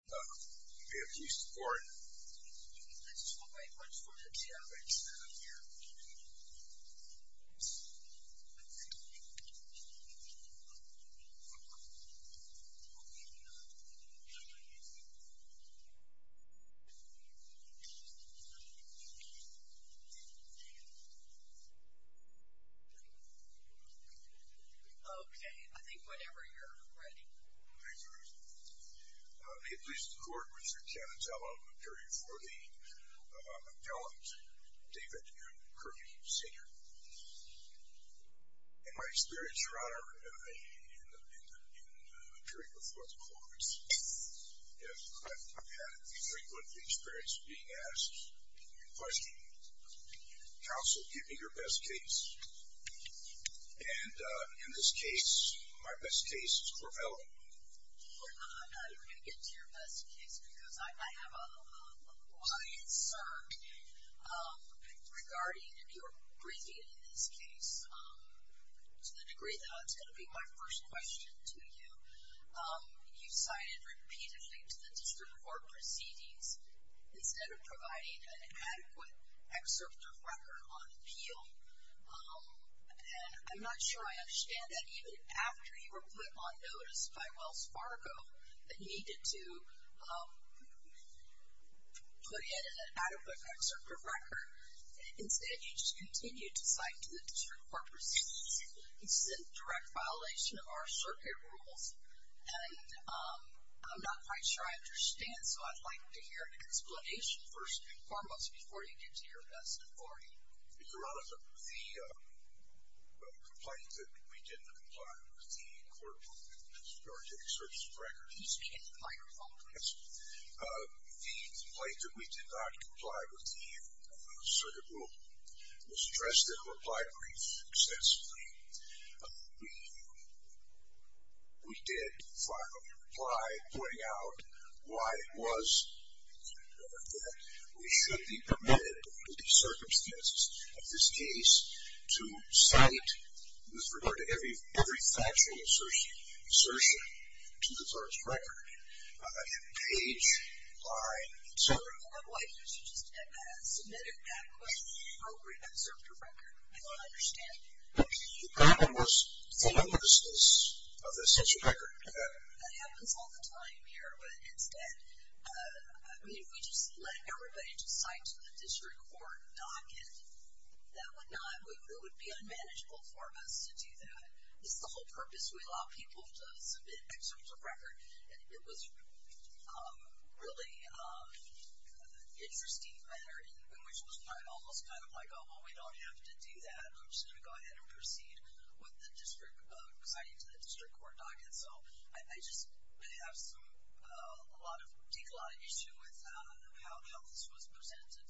Do you have any support? Let's just wait. Let's wait and see how it's set up here. Okay, I think whenever you're ready. Thank you very much. May it please the court, Mr. Canitello, appearing before the appellant, David M. Curley, Sr. In my experience, Your Honor, in the period before the court, I've had the frequent experience of being asked the question, counsel, give me your best case. And in this case, my best case is Corvella. Your Honor, you're going to get to your best case because I have a wide search regarding your briefing in this case. To the degree that it's going to be my first question to you, you've cited repeatedly to the district court proceedings, instead of providing an adequate excerpt of record on appeal. And I'm not sure I understand that even after you were put on notice by Wells Fargo that you needed to put in an adequate excerpt of record. Instead, you just continued to cite to the district court proceedings. This is a direct violation of our circuit rules, and I'm not quite sure I understand, so I'd like to hear an explanation, first and foremost, before you get to your best authority. Your Honor, the complaint that we didn't comply with the court's warranted excerpts of record. Can you speak into the microphone, please? Yes. The complaint that we did not comply with the circuit rule was addressed in a reply brief extensively. We did file a reply pointing out why it was that we should be permitted, in the circumstances of this case, to cite with regard to every factual assertion to the court's record. In page 9. Sir, why didn't you just submit an adequate appropriate excerpt of record? I don't understand. The problem was the numberlessness of the censure record. That happens all the time here, but instead, I mean we just let everybody just cite to the district court docket. That would not, it would be unmanageable for us to do that. It's the whole purpose. We allow people to submit excerpts of record. It was really an interesting matter in which it was almost kind of like, oh, well, we don't have to do that. I'm just going to go ahead and proceed with the district, citing to the district court docket. So I just have a lot of issues with how this was presented.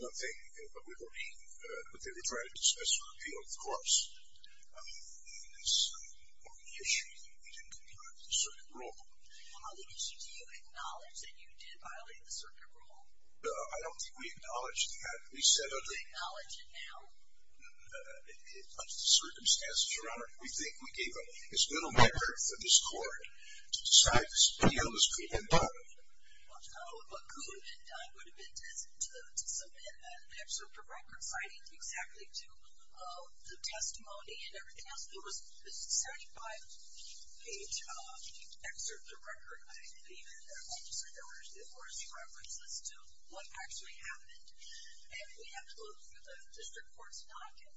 This issue that we didn't comply with the circuit rule. Do you acknowledge that you did violate the circuit rule? I don't think we acknowledged that. We said under the circumstances, Your Honor, we think we gave as little merit for this court to decide this video as could have been done. What could have been done would have been to submit an excerpt of record citing exactly to the testimony and everything else. It was a 75-page excerpt of record. I didn't even want to say there were any references to what actually happened. And we have to look through the district court's docket.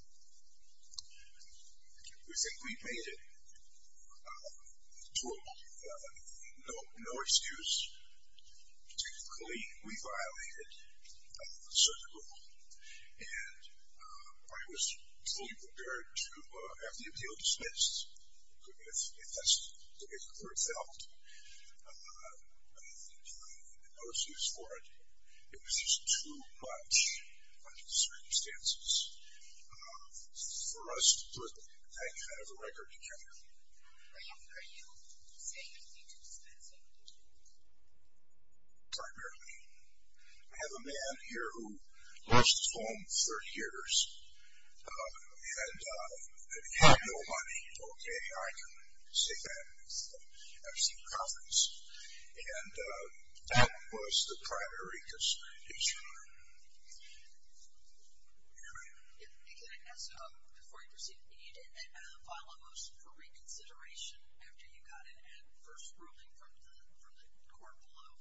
We think we made it to a point of no excuse. Technically, we violated the circuit rule. And I was fully prepared to have the appeal dispensed, if that's the way the court felt. I think there was no excuse for it. It was just too much under the circumstances for us to put that kind of a record together. Are you saying you did dispense it? Primarily. I have a man here who lost his home for years. And he had no money, okay? I can say that with absolute confidence. And that was the prior Eureka's issue. Eric? Before you proceed, did you file a motion for reconsideration after you got an adverse ruling from the court below?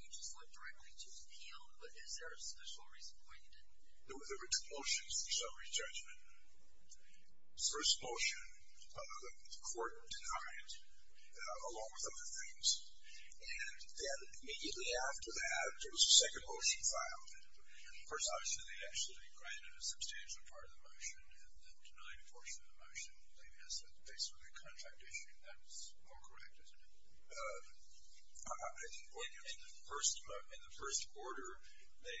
You just went directly to appeal, but is there a special reason why you didn't? There were two motions for summary judgment. First motion, the court denied it, along with other things. And then immediately after that, there was a second motion filed. First, obviously, they actually granted a substantial part of the motion, and the denied portion of the motion, I believe, has to do with a contract issue. That's more correct, isn't it? In the first order, the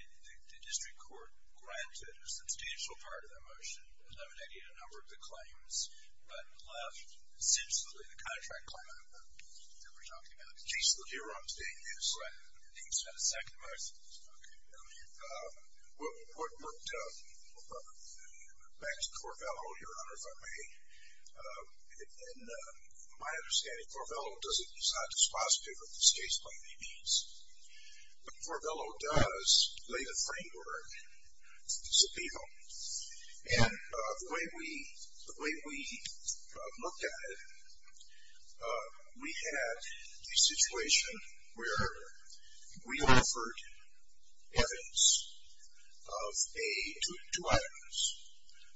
district court granted eliminating a number of the claims, but left essentially the contract claim that we're talking about. The case that we're on today is? Right. I think it's been a second motion. Okay. Back to Corvello, Your Honor, if I may. In my understanding, Corvello is not dispositive of this case by any means. But Corvello does lay the framework to appeal. And the way we looked at it, we had a situation where we offered evidence of a, two items.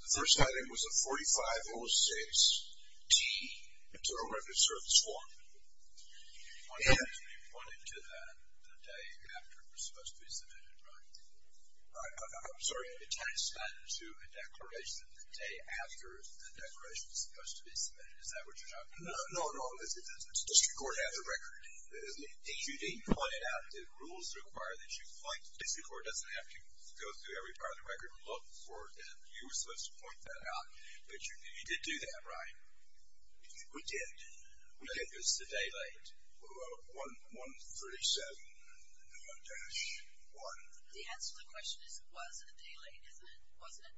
The first item was a 4506-T, Internal Revenue Service form. And we went into that the day after it was supposed to be submitted, right? I'm sorry. It had to span to a declaration the day after the declaration was supposed to be submitted. Is that what you're talking about? No, no. The district court had the record. You didn't point it out. The rules require that you point. The district court doesn't have to go through every part of the record and look for it, and you were supposed to point that out. But you did do that, right? We did. It was the day late. 137-1. The answer to the question is it was a day late, isn't it? Wasn't it?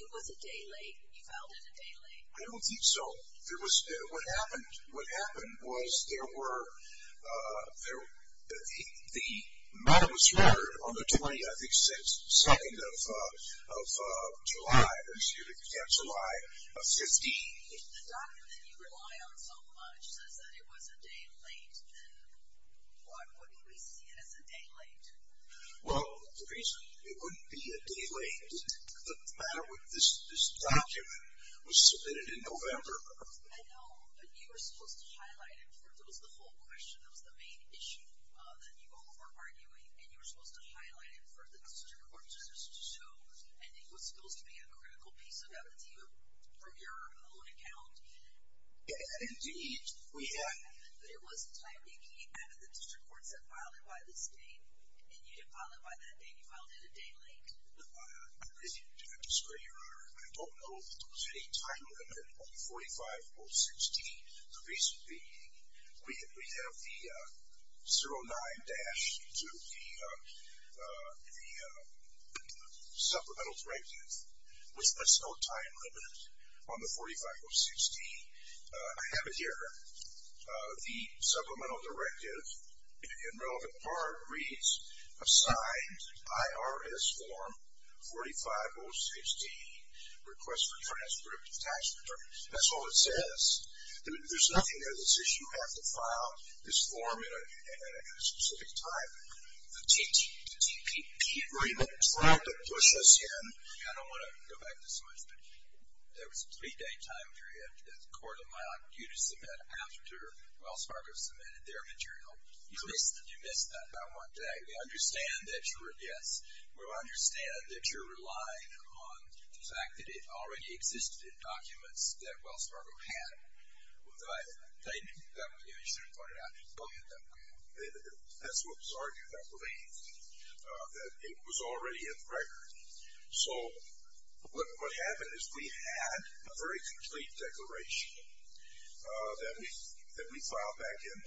It was a day late. You filed it a day late. I don't think so. What happened was there were the matter was rendered on the 20th, I think, 2nd of July, excuse me, July 15th. If the document you rely on so much says that it was a day late, then why wouldn't we see it as a day late? Well, the reason it wouldn't be a day late, the matter with this document was submitted in November. I know, but you were supposed to highlight it. It was the whole question. It was the main issue that you all were arguing, and you were supposed to highlight it for the district court to show, and it was supposed to be a critical piece of evidence, even from your own account. Indeed, we had. But it was the time you came out of the district courts and filed it by this date, and you didn't file it by that date. You filed it a day late. I disagree, Your Honor. I don't know if there was any time limit on 45-016. The reason being, we have the 0-9 dash to the supplemental directive, which puts no time limit on the 45-016. I have it here. The supplemental directive, in relevant part, reads, assigned IRS form 45-016, request for transcript of tax return. That's all it says. There's nothing there that says you have to file this form at a specific time. The TPP agreement tried to push us in. I don't want to go back this much, but there was a three-day time period that the court allowed you to submit after Wells Fargo submitted their material. You missed that by one day. We understand that you're a guest. We understand that you're relying on the fact that it already existed in documents that Wells Fargo had. That's what was argued, I believe, that it was already in the record. So what happened is we had a very complete declaration that we filed back in.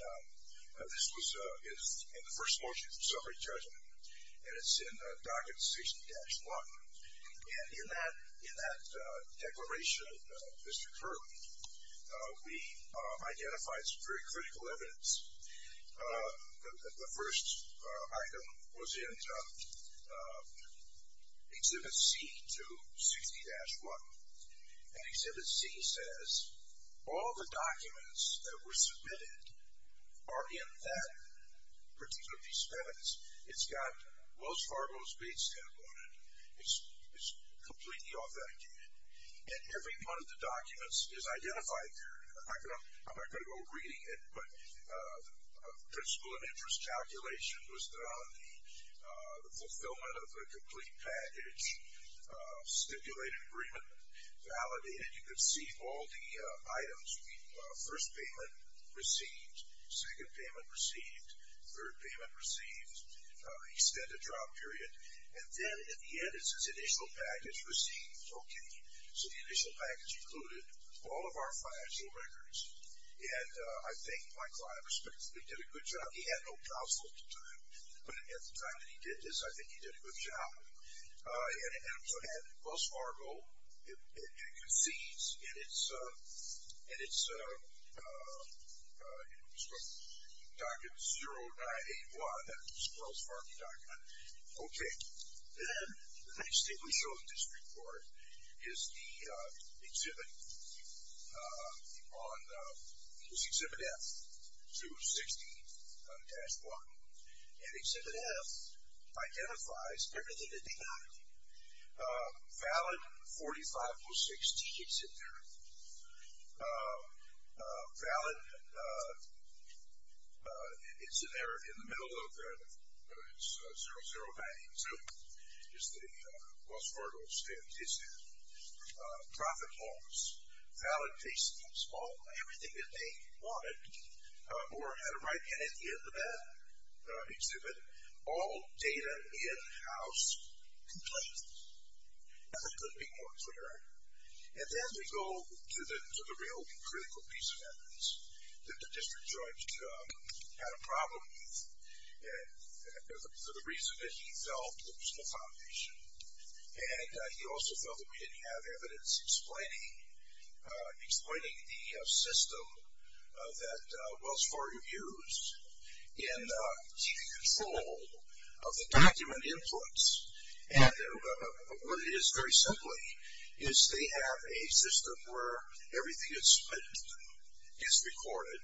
This was in the first motion for summary judgment, and it's in document 60-1. In that declaration, Mr. Kirby, we identified some very critical evidence. The first item was in Exhibit C to 60-1, and Exhibit C says all the documents that were submitted are in that particular piece of evidence. It's got Wells Fargo's base stamp on it. It's completely authenticated, and every one of the documents is identified here. I'm not going to go reading it, but the principle of interest calculation was done, the fulfillment of the complete package, stipulated agreement validated. You can see all the items. First payment received, second payment received, third payment received. Extended trial period. And then at the end, it says initial package received. Okay. So the initial package included all of our financial records, and I think my client respectfully did a good job. He had no counsel at the time, but at the time that he did this, I think he did a good job. And so it had Wells Fargo. It concedes in its document 0981. That was the Wells Fargo document. Okay. The next thing we show in this report is the Exhibit F to 60-1, and Exhibit F identifies everything that they wanted. Valid 4506G exhibit there. Valid, it's in there in the middle of it. It's 0092. It's the Wells Fargo stamp. It's the profit loss. Valid case. Everything that they wanted, or had it right in it in that exhibit. All data in-house complete. Nothing could be more clear. And then we go to the real critical piece of evidence that the district judge had a problem with, for the reason that he felt was an accommodation. And he also felt that we didn't have evidence explaining the system that Wells Fargo used in keeping control of the document inputs. And what it is, very simply, is they have a system where everything that's spent is recorded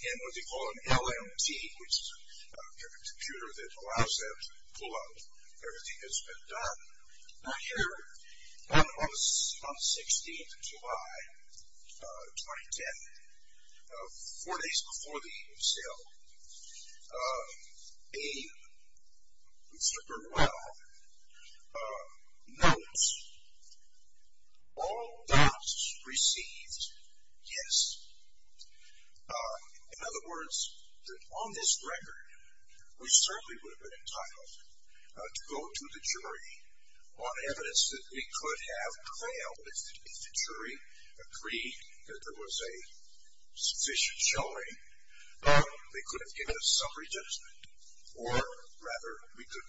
in what they call an LMT, which is a computer that allows them to pull out everything that's been done. Now here, on the 16th of July, 2010, four days before the sale, Abe, Mr. Burwell, notes, all doubts received, yes. In other words, that on this record, we certainly would have been entitled to go to the jury on evidence that we could have prevailed if the jury agreed that there was a sufficient showing. They could have given us some re-judgment. Or, rather, we could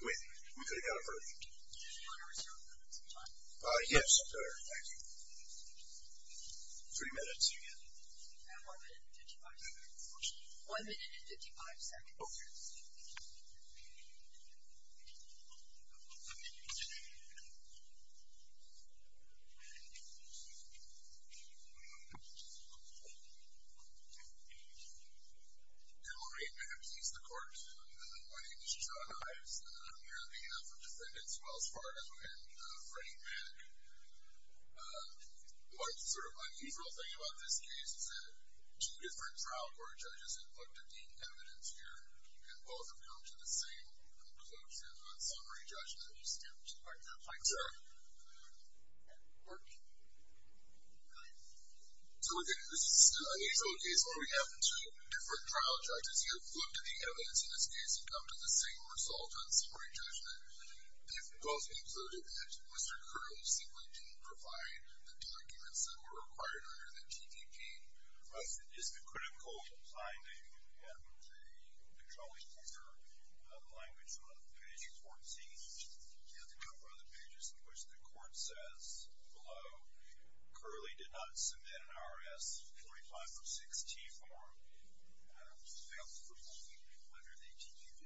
have got a verdict. Do you want to reserve the minutes of time? Yes, sir. Thank you. Three minutes. And one minute and 55 seconds. One minute and 55 seconds. Okay. Good morning. May I please the court? My name is John Ives. I'm here on behalf of defendants Wells Fargo and Freddie Mac. One sort of unusual thing about this case is that two different trial court judges have looked at the evidence here, and both have come to the same conclusions. Thank you, sir. Court. So, again, this is an unusual case where we have two different trial judges who have looked at the evidence in this case and come to the same result on summary judgment. They've both concluded that Mr. Krug simply didn't provide the documents that were required under the TPP. Is the critical finding that the controlling order language on page 14 and a number of other pages in which the court says below, Curley did not submit an R.S. 4506-T form, failed to fulfill under the TPP?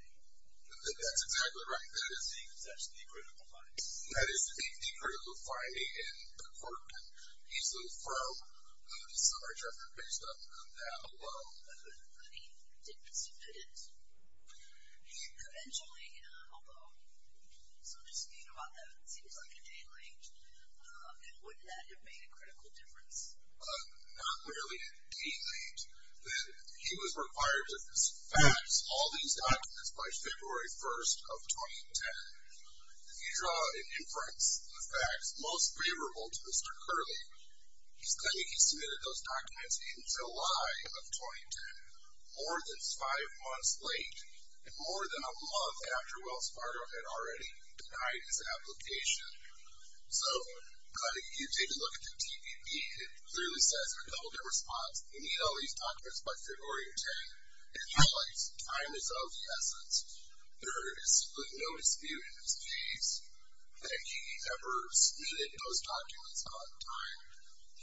That's exactly right. That is the critical finding. That is the critical finding, and, unfortunately, he's a little firm on the summary judgment based on that alone. But he did submit it. Eventually, although some dispute about that seems like a day late, would that have made a critical difference? Not really a day late. He was required to fax all these documents by February 1st of 2010. If you draw an inference, the fax most favorable to Mr. Curley, he's claiming he submitted those documents in July of 2010, more than five months late, and more than a month after Wells Fargo had already denied his application. So you take a look at the TPP. It clearly says in a double-dip response, you need all these documents by February 10th. It highlights time is of the essence. There is simply no dispute in his case that he ever submitted those documents on time.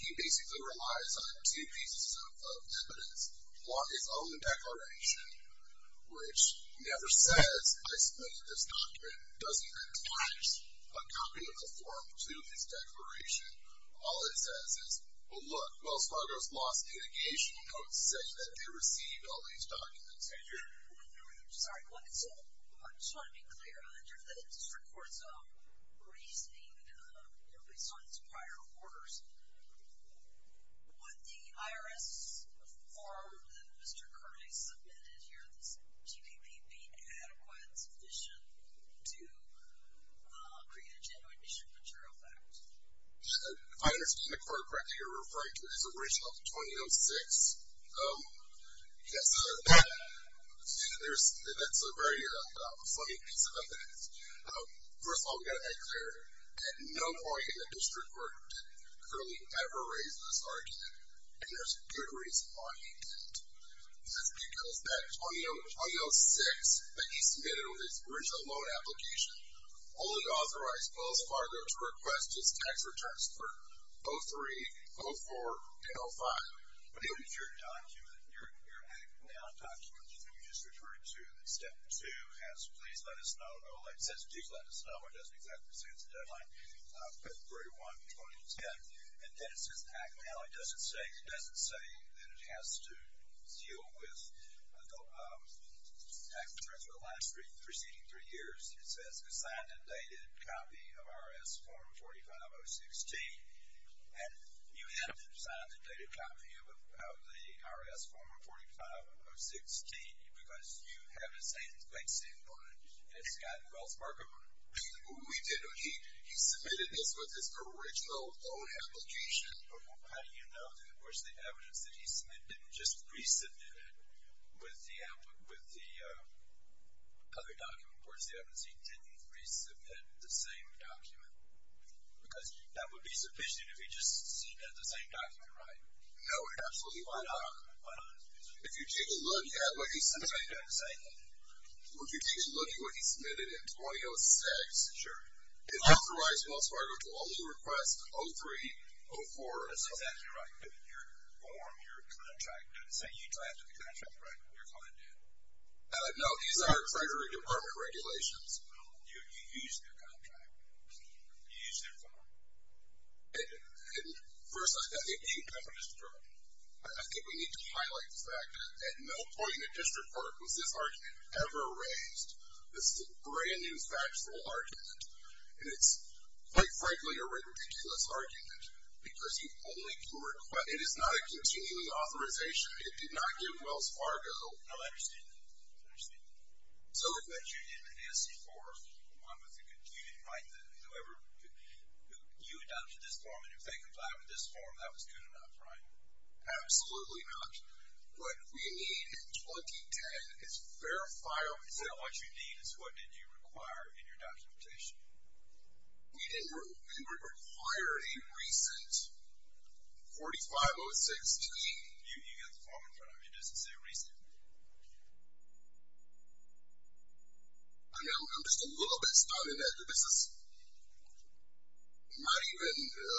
He basically relies on two pieces of evidence. One, his own declaration, which never says, I submitted this document, doesn't attach a copy of the form to this declaration. All it says is, well, look, Wells Fargo's lost litigation notes saying that they received all these documents. I'm sorry. I just want to be clear. Under the district court's reasoning, based on its prior orders, would the IRS form that Mr. Curley submitted here, this TPP, be adequate sufficient to create a genuine district material fact? I understand the court practice you're referring to is original 2006. Yes, that's a very funny piece of evidence. First of all, we've got to make clear that no point in the district court did Curley ever raise this argument, and there's good reason why he didn't. That's because that 2006 that he submitted with his original loan application only authorized Wells Fargo to request his tax returns for 03, 04, and 05. But if your document, your act now document that you just referred to, that step two has please let us know, deadline February 1, 2010, and then it says act now, it doesn't say that it has to deal with tax returns for the last preceding three years. It says assign a dated copy of IRS form 45016, and you have to assign a dated copy of the IRS form 45016 because you have to say things in it, and it's got Wells Fargo. He submitted this with his original loan application. How do you know that, of course, the evidence that he submitted didn't just resubmit it with the other document? Of course, the evidence he didn't resubmit the same document because that would be sufficient if he just submitted the same document, right? No, absolutely not. If you take a look at what he submitted, If you take a look at what he submitted in 2006, it authorized Wells Fargo to only request 03, 04, and 05. That's exactly right. But your form, your contract doesn't say you signed the contract, right? Your client did. No, these are Treasury Department regulations. No, you used their contract. You used their form. First, I think we need to highlight the fact that no point in the district court was this argument ever raised. This is a brand-new factual argument, and it's, quite frankly, a ridiculous argument because you only can request. It is not a continuing authorization. It did not give Wells Fargo. No, I understand that. I understand that. So if that union is for one with a continuing right, then whoever you adopted this form, and you're saying comply with this form, that was good enough, right? Absolutely not. What we need in 2010 is fair file. Is that what you need? What did you require in your documentation? We required a recent 4506E. You have the form in front of you. It doesn't say recent. I'm just a little bit stunned that this is not even a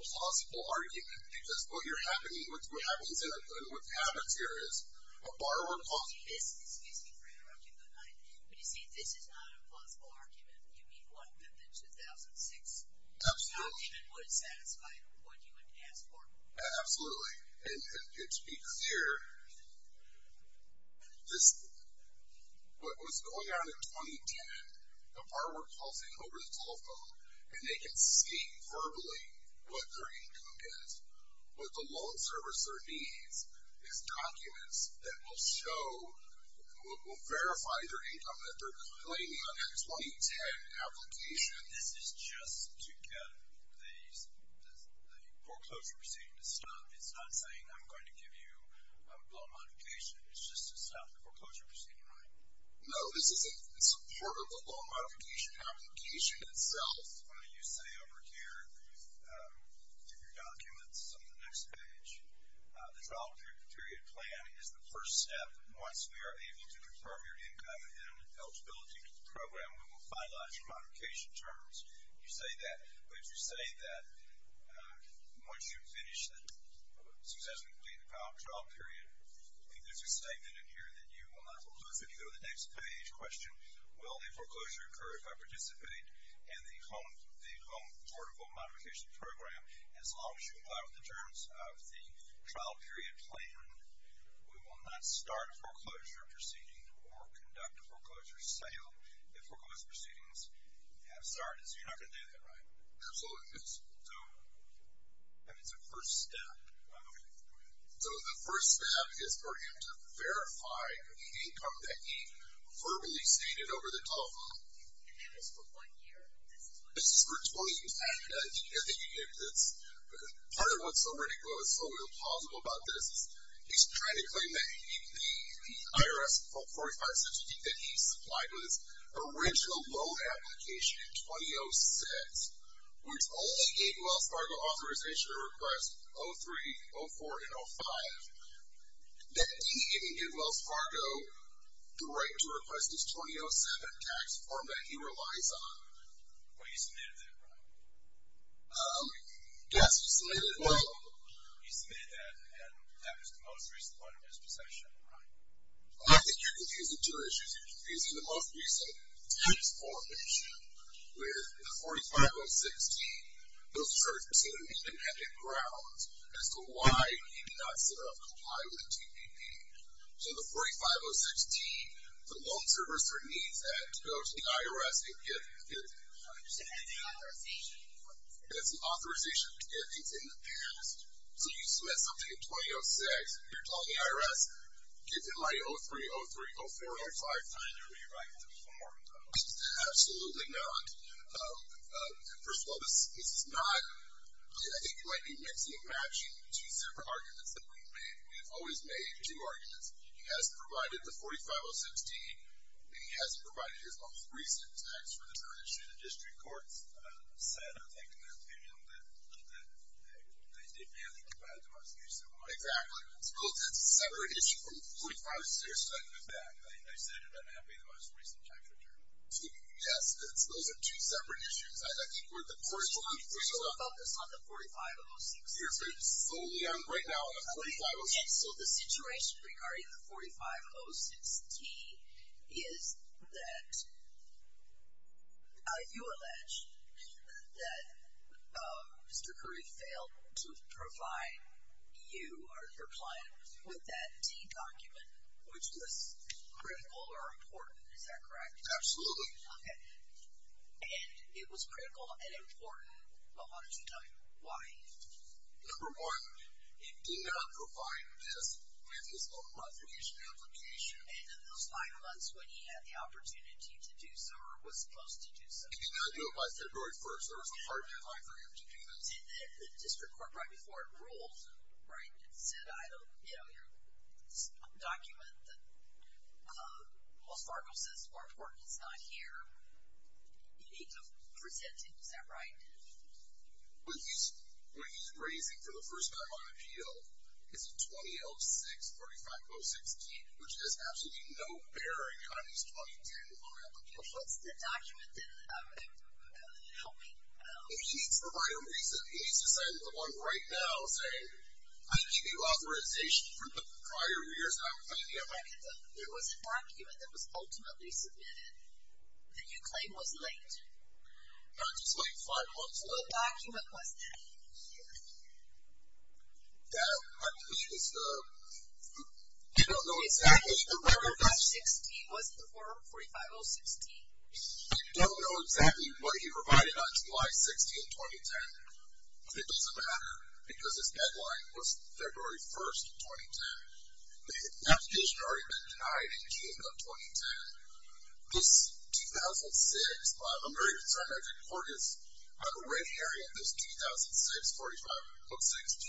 plausible argument because what happens here is a borrower calls in. Excuse me for interrupting the night, but you see this is not a plausible argument. You mean what? That the 2006 document wouldn't satisfy what you had asked for? Absolutely. And to be clear, what was going on in 2010, a borrower calls in over the telephone, and they can see verbally what their income is. What the loan servicer needs is documents that will show, will verify their income that they're complying on that 2010 application. This is just to get the foreclosure proceeding to stop. It's not saying I'm going to give you a loan modification. It's just to stop the foreclosure proceeding, right? No, this is part of the loan modification application itself. This is why you say over here in your documents on the next page, the trial period plan is the first step. Once we are able to confirm your income and eligibility to the program, we will finalize your modification terms. You say that, but you say that once you've finished the successful and completed trial period, I think there's a statement in here that you will not foreclose. If you go to the next page, question, will the foreclosure occur if I participate in the home portable modification program? As long as you comply with the terms of the trial period plan, we will not start a foreclosure proceeding or conduct a foreclosure sale if foreclosure proceedings have started. So you're not going to do that, right? Absolutely not. So it's a first step. So the first step is for him to verify the income that he verbally stated over the telephone. And that was for one year? This is for 2010. Part of what's so ridiculous and so implausible about this is he's trying to claim that the IRS 456 that he supplied with his original loan application in 2006, which only gave Wells Fargo authorization to request 03, 04, and 05, that he didn't give Wells Fargo the right to request his 2007 tax form that he relies on. Well, he submitted that, right? Yes, he submitted that. He submitted that, and that was the most recent one in his possession, right? I think you're confusing two issues. You're confusing the most recent tax form issue with the 4506D. Those are two independent grounds as to why he did not set up comply with the TPP. So the 4506D, the loan servicer needs that to go to the IRS and get his authorization to get things in the past. So you submit something in 2006, you're telling the IRS, give him my 03, 03, 04, 05 time to rewrite the form. Absolutely not. First of all, this is not, I think you might be mixing and matching two separate arguments that we've made. We've always made two arguments. He hasn't provided the 4506D. He hasn't provided his most recent tax return issue to the district courts. I'm saddened to take the opinion that they didn't really comply with the most recent one. Exactly. Those are separate issues. The 4506D, I said it would not be the most recent tax return. Yes, those are two separate issues. So you're focused on the 4506D? Yes, I'm right now on the 4506D. So the situation regarding the 4506D is that you allege that Mr. Curry failed to provide you or your client with that D document, which was critical or important. Is that correct? Absolutely. Absolutely. Okay. And it was critical and important, but why don't you tell me why? Number one, he did not provide this with his local application application. And in those five months when he had the opportunity to do so or was supposed to do so. He did not do it by February 1st. There was a hard deadline for him to do this. And then the district court, right before it ruled, right, said, I don't, you know, your document, well Sparkle says more important is not here. You need to present it. Is that right? When he's raising for the first time on appeal, it's a 20-06-4506D, which has absolutely no bearing on his 2010 local application. What's the document that helped me? He needs to provide a reason. He needs to send someone right now saying, I didn't give you authorization for the prior years, and I'm not going to give it back to you. There was a document that was ultimately submitted that you claim was late. Not just late, five months late. What document was that in here? That was the, I don't know exactly. The 4506D, was it the 4506D? I don't know exactly what he provided on July 16, 2010. But it doesn't matter, because his deadline was February 1, 2010. The application had already been denied in June of 2010. This 2006, I'm very concerned. I did court this under Ray Herrien, this 2006-45-06-D.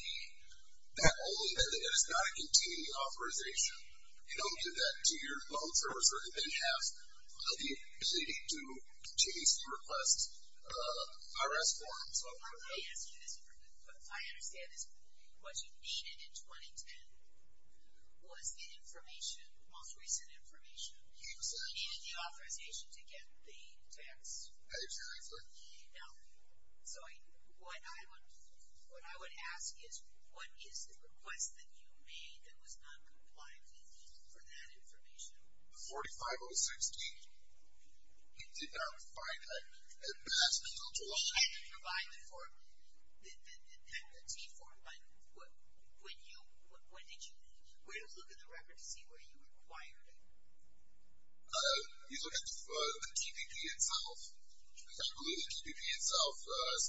That only meant that it is not a continuing authorization. You don't give that to your loan service and have the ability to change the request IRS form. I understand this, but what you needed in 2010 was the information, the most recent information. You needed the authorization to get the tax. I did not. So what I would ask is, what is the request that you made that was noncompliant for that information? The 4506D. He did not provide that. And that's until July. He didn't provide the form, the T4 item. When did you look in the record to see where you acquired it? You look at the TPP itself. I believe the TPP itself,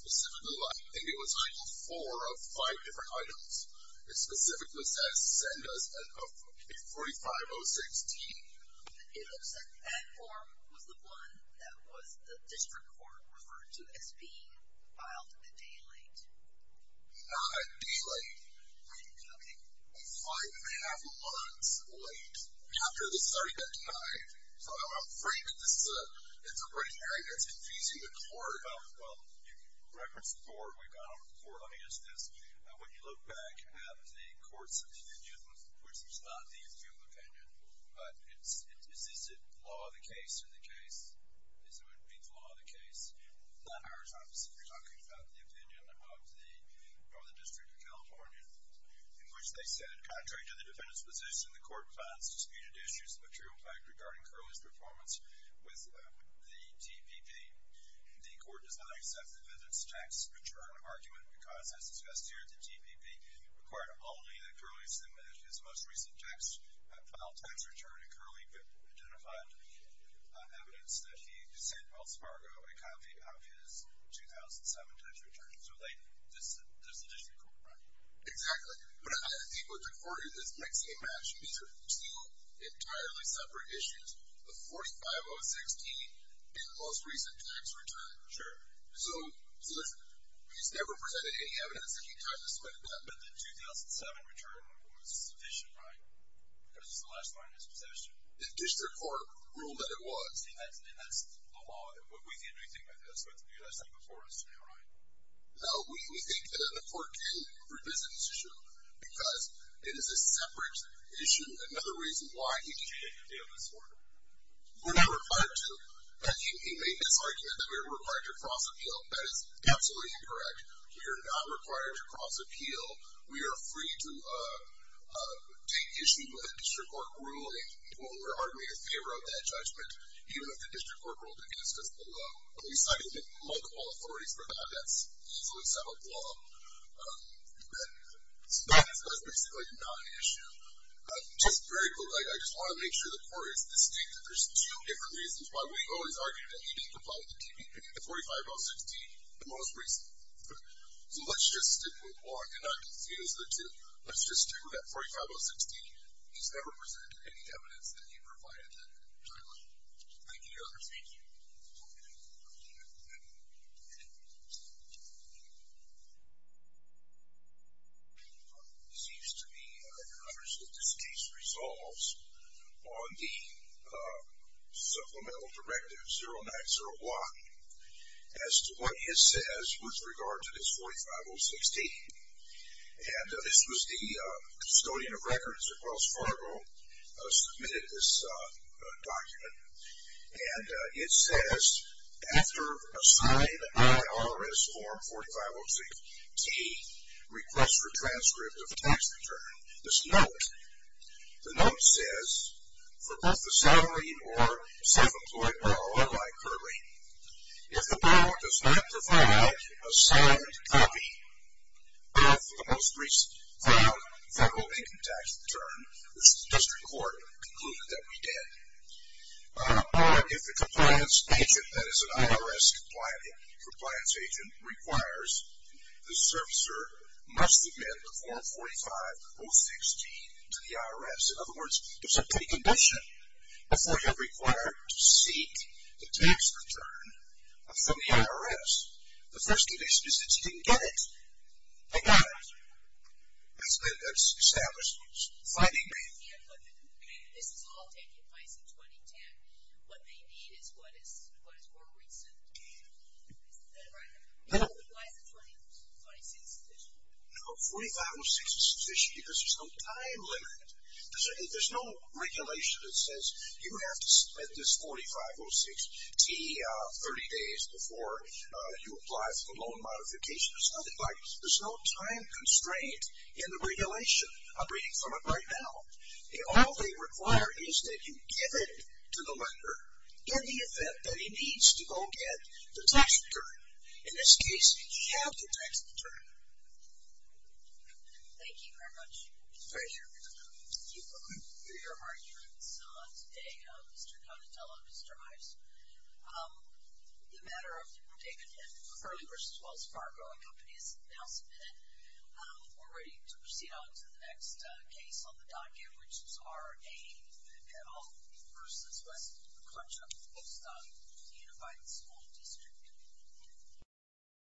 specifically, I think it was item four of five different items. It specifically says, send us a 4506D. It looks like that form was the one that was the district court referred to as being filed a day late. Not a day late. Okay. Five and a half months late. After the starting of July. So I'm afraid that this is a Ray Herrien that's confusing the court. Well, you referenced the court. We've gone over the court on the instance. When you look back at the courts opinion, which is not the appeal opinion, but is it the law of the case or the case? Is it the law of the case? Not ours, obviously. We're talking about the opinion of the Northern District of California, in which they said, contrary to the defendant's position, the court finds disputed issues of a true effect regarding Curley's performance with the TPP. The court does not accept the defendant's tax return argument because, as discussed here, the TPP required only that Curley submit his most recent tax file tax return. And Curley identified evidence that he sent Wells Fargo a copy of his 2007 tax return. So this is the district court, right? Exactly. But I think what the court did is mix and match. These are two entirely separate issues, the 4506D and the most recent tax return. Sure. So he's never presented any evidence that he tried to submit to them. But the 2007 return was sufficient, right? Because it's the last line of his possession. The district court ruled that it was. And that's the law. We didn't do anything like that. So it's the last thing before us now, right? No. We think that the court did revisit this issue because it is a separate issue. Another reason why he did. You didn't appeal this one? We're not required to. He made this argument that we were required to cross-appeal. That is absolutely incorrect. We are not required to cross-appeal. We are free to take issue with a district court ruling. We're arguably in favor of that judgment, even if the district court ruled against us below. We cited multiple authorities for that. That's also a separate law. So that's basically not an issue. Just very quickly, I just want to make sure the court is distinct. There's two different reasons why we always argue that he didn't provide the TPP, the 45016, the most recently. So let's just stick with one and not confuse the two. Let's just do that 45016. He's never presented any evidence that he provided that time. Thank you, Your Honor. Thank you. Thank you. It seems to me, Your Honor, that this case resolves on the supplemental directive 0901 as to what it says with regard to this 45016. And this was the custodian of records at Wells Fargo submitted this document. And it says, after a signed IRS form 45016T, request for transcript of tax return, this note, the note says, for both the salary or self-employed or unlike currently, if the board does not provide a signed copy of the most recent found federal income tax return, which the district court concluded that we did, if the compliance agent, that is an IRS compliance agent, requires the servicer must submit the form 45016 to the IRS. In other words, it's a pre-condition before you're required to seek the tax return from the IRS. The first condition is that you didn't get it. I got it. That's been established. Finding me. This is all taken by some 2010. What they need is what is more recent. Is that right? Why is the 45016 sufficient? No, 45016 is sufficient because there's no time limit. There's no regulation that says you have to submit this 45016T 30 days before you apply for a loan modification. There's no time constraint in the regulation. I'm reading from it right now. All they require is that you give it to the lender in the event that he needs to go get the tax return. In this case, he had the tax return. Thank you very much. Pleasure. Your arguments today, Mr. Conatello, Mr. Ives, The matter of David and Curley v. Wells Fargo, a company, is now submitted. We're ready to proceed on to the next case on the docket, which is R.A. Petal v. West McClenchon, post-unified school district.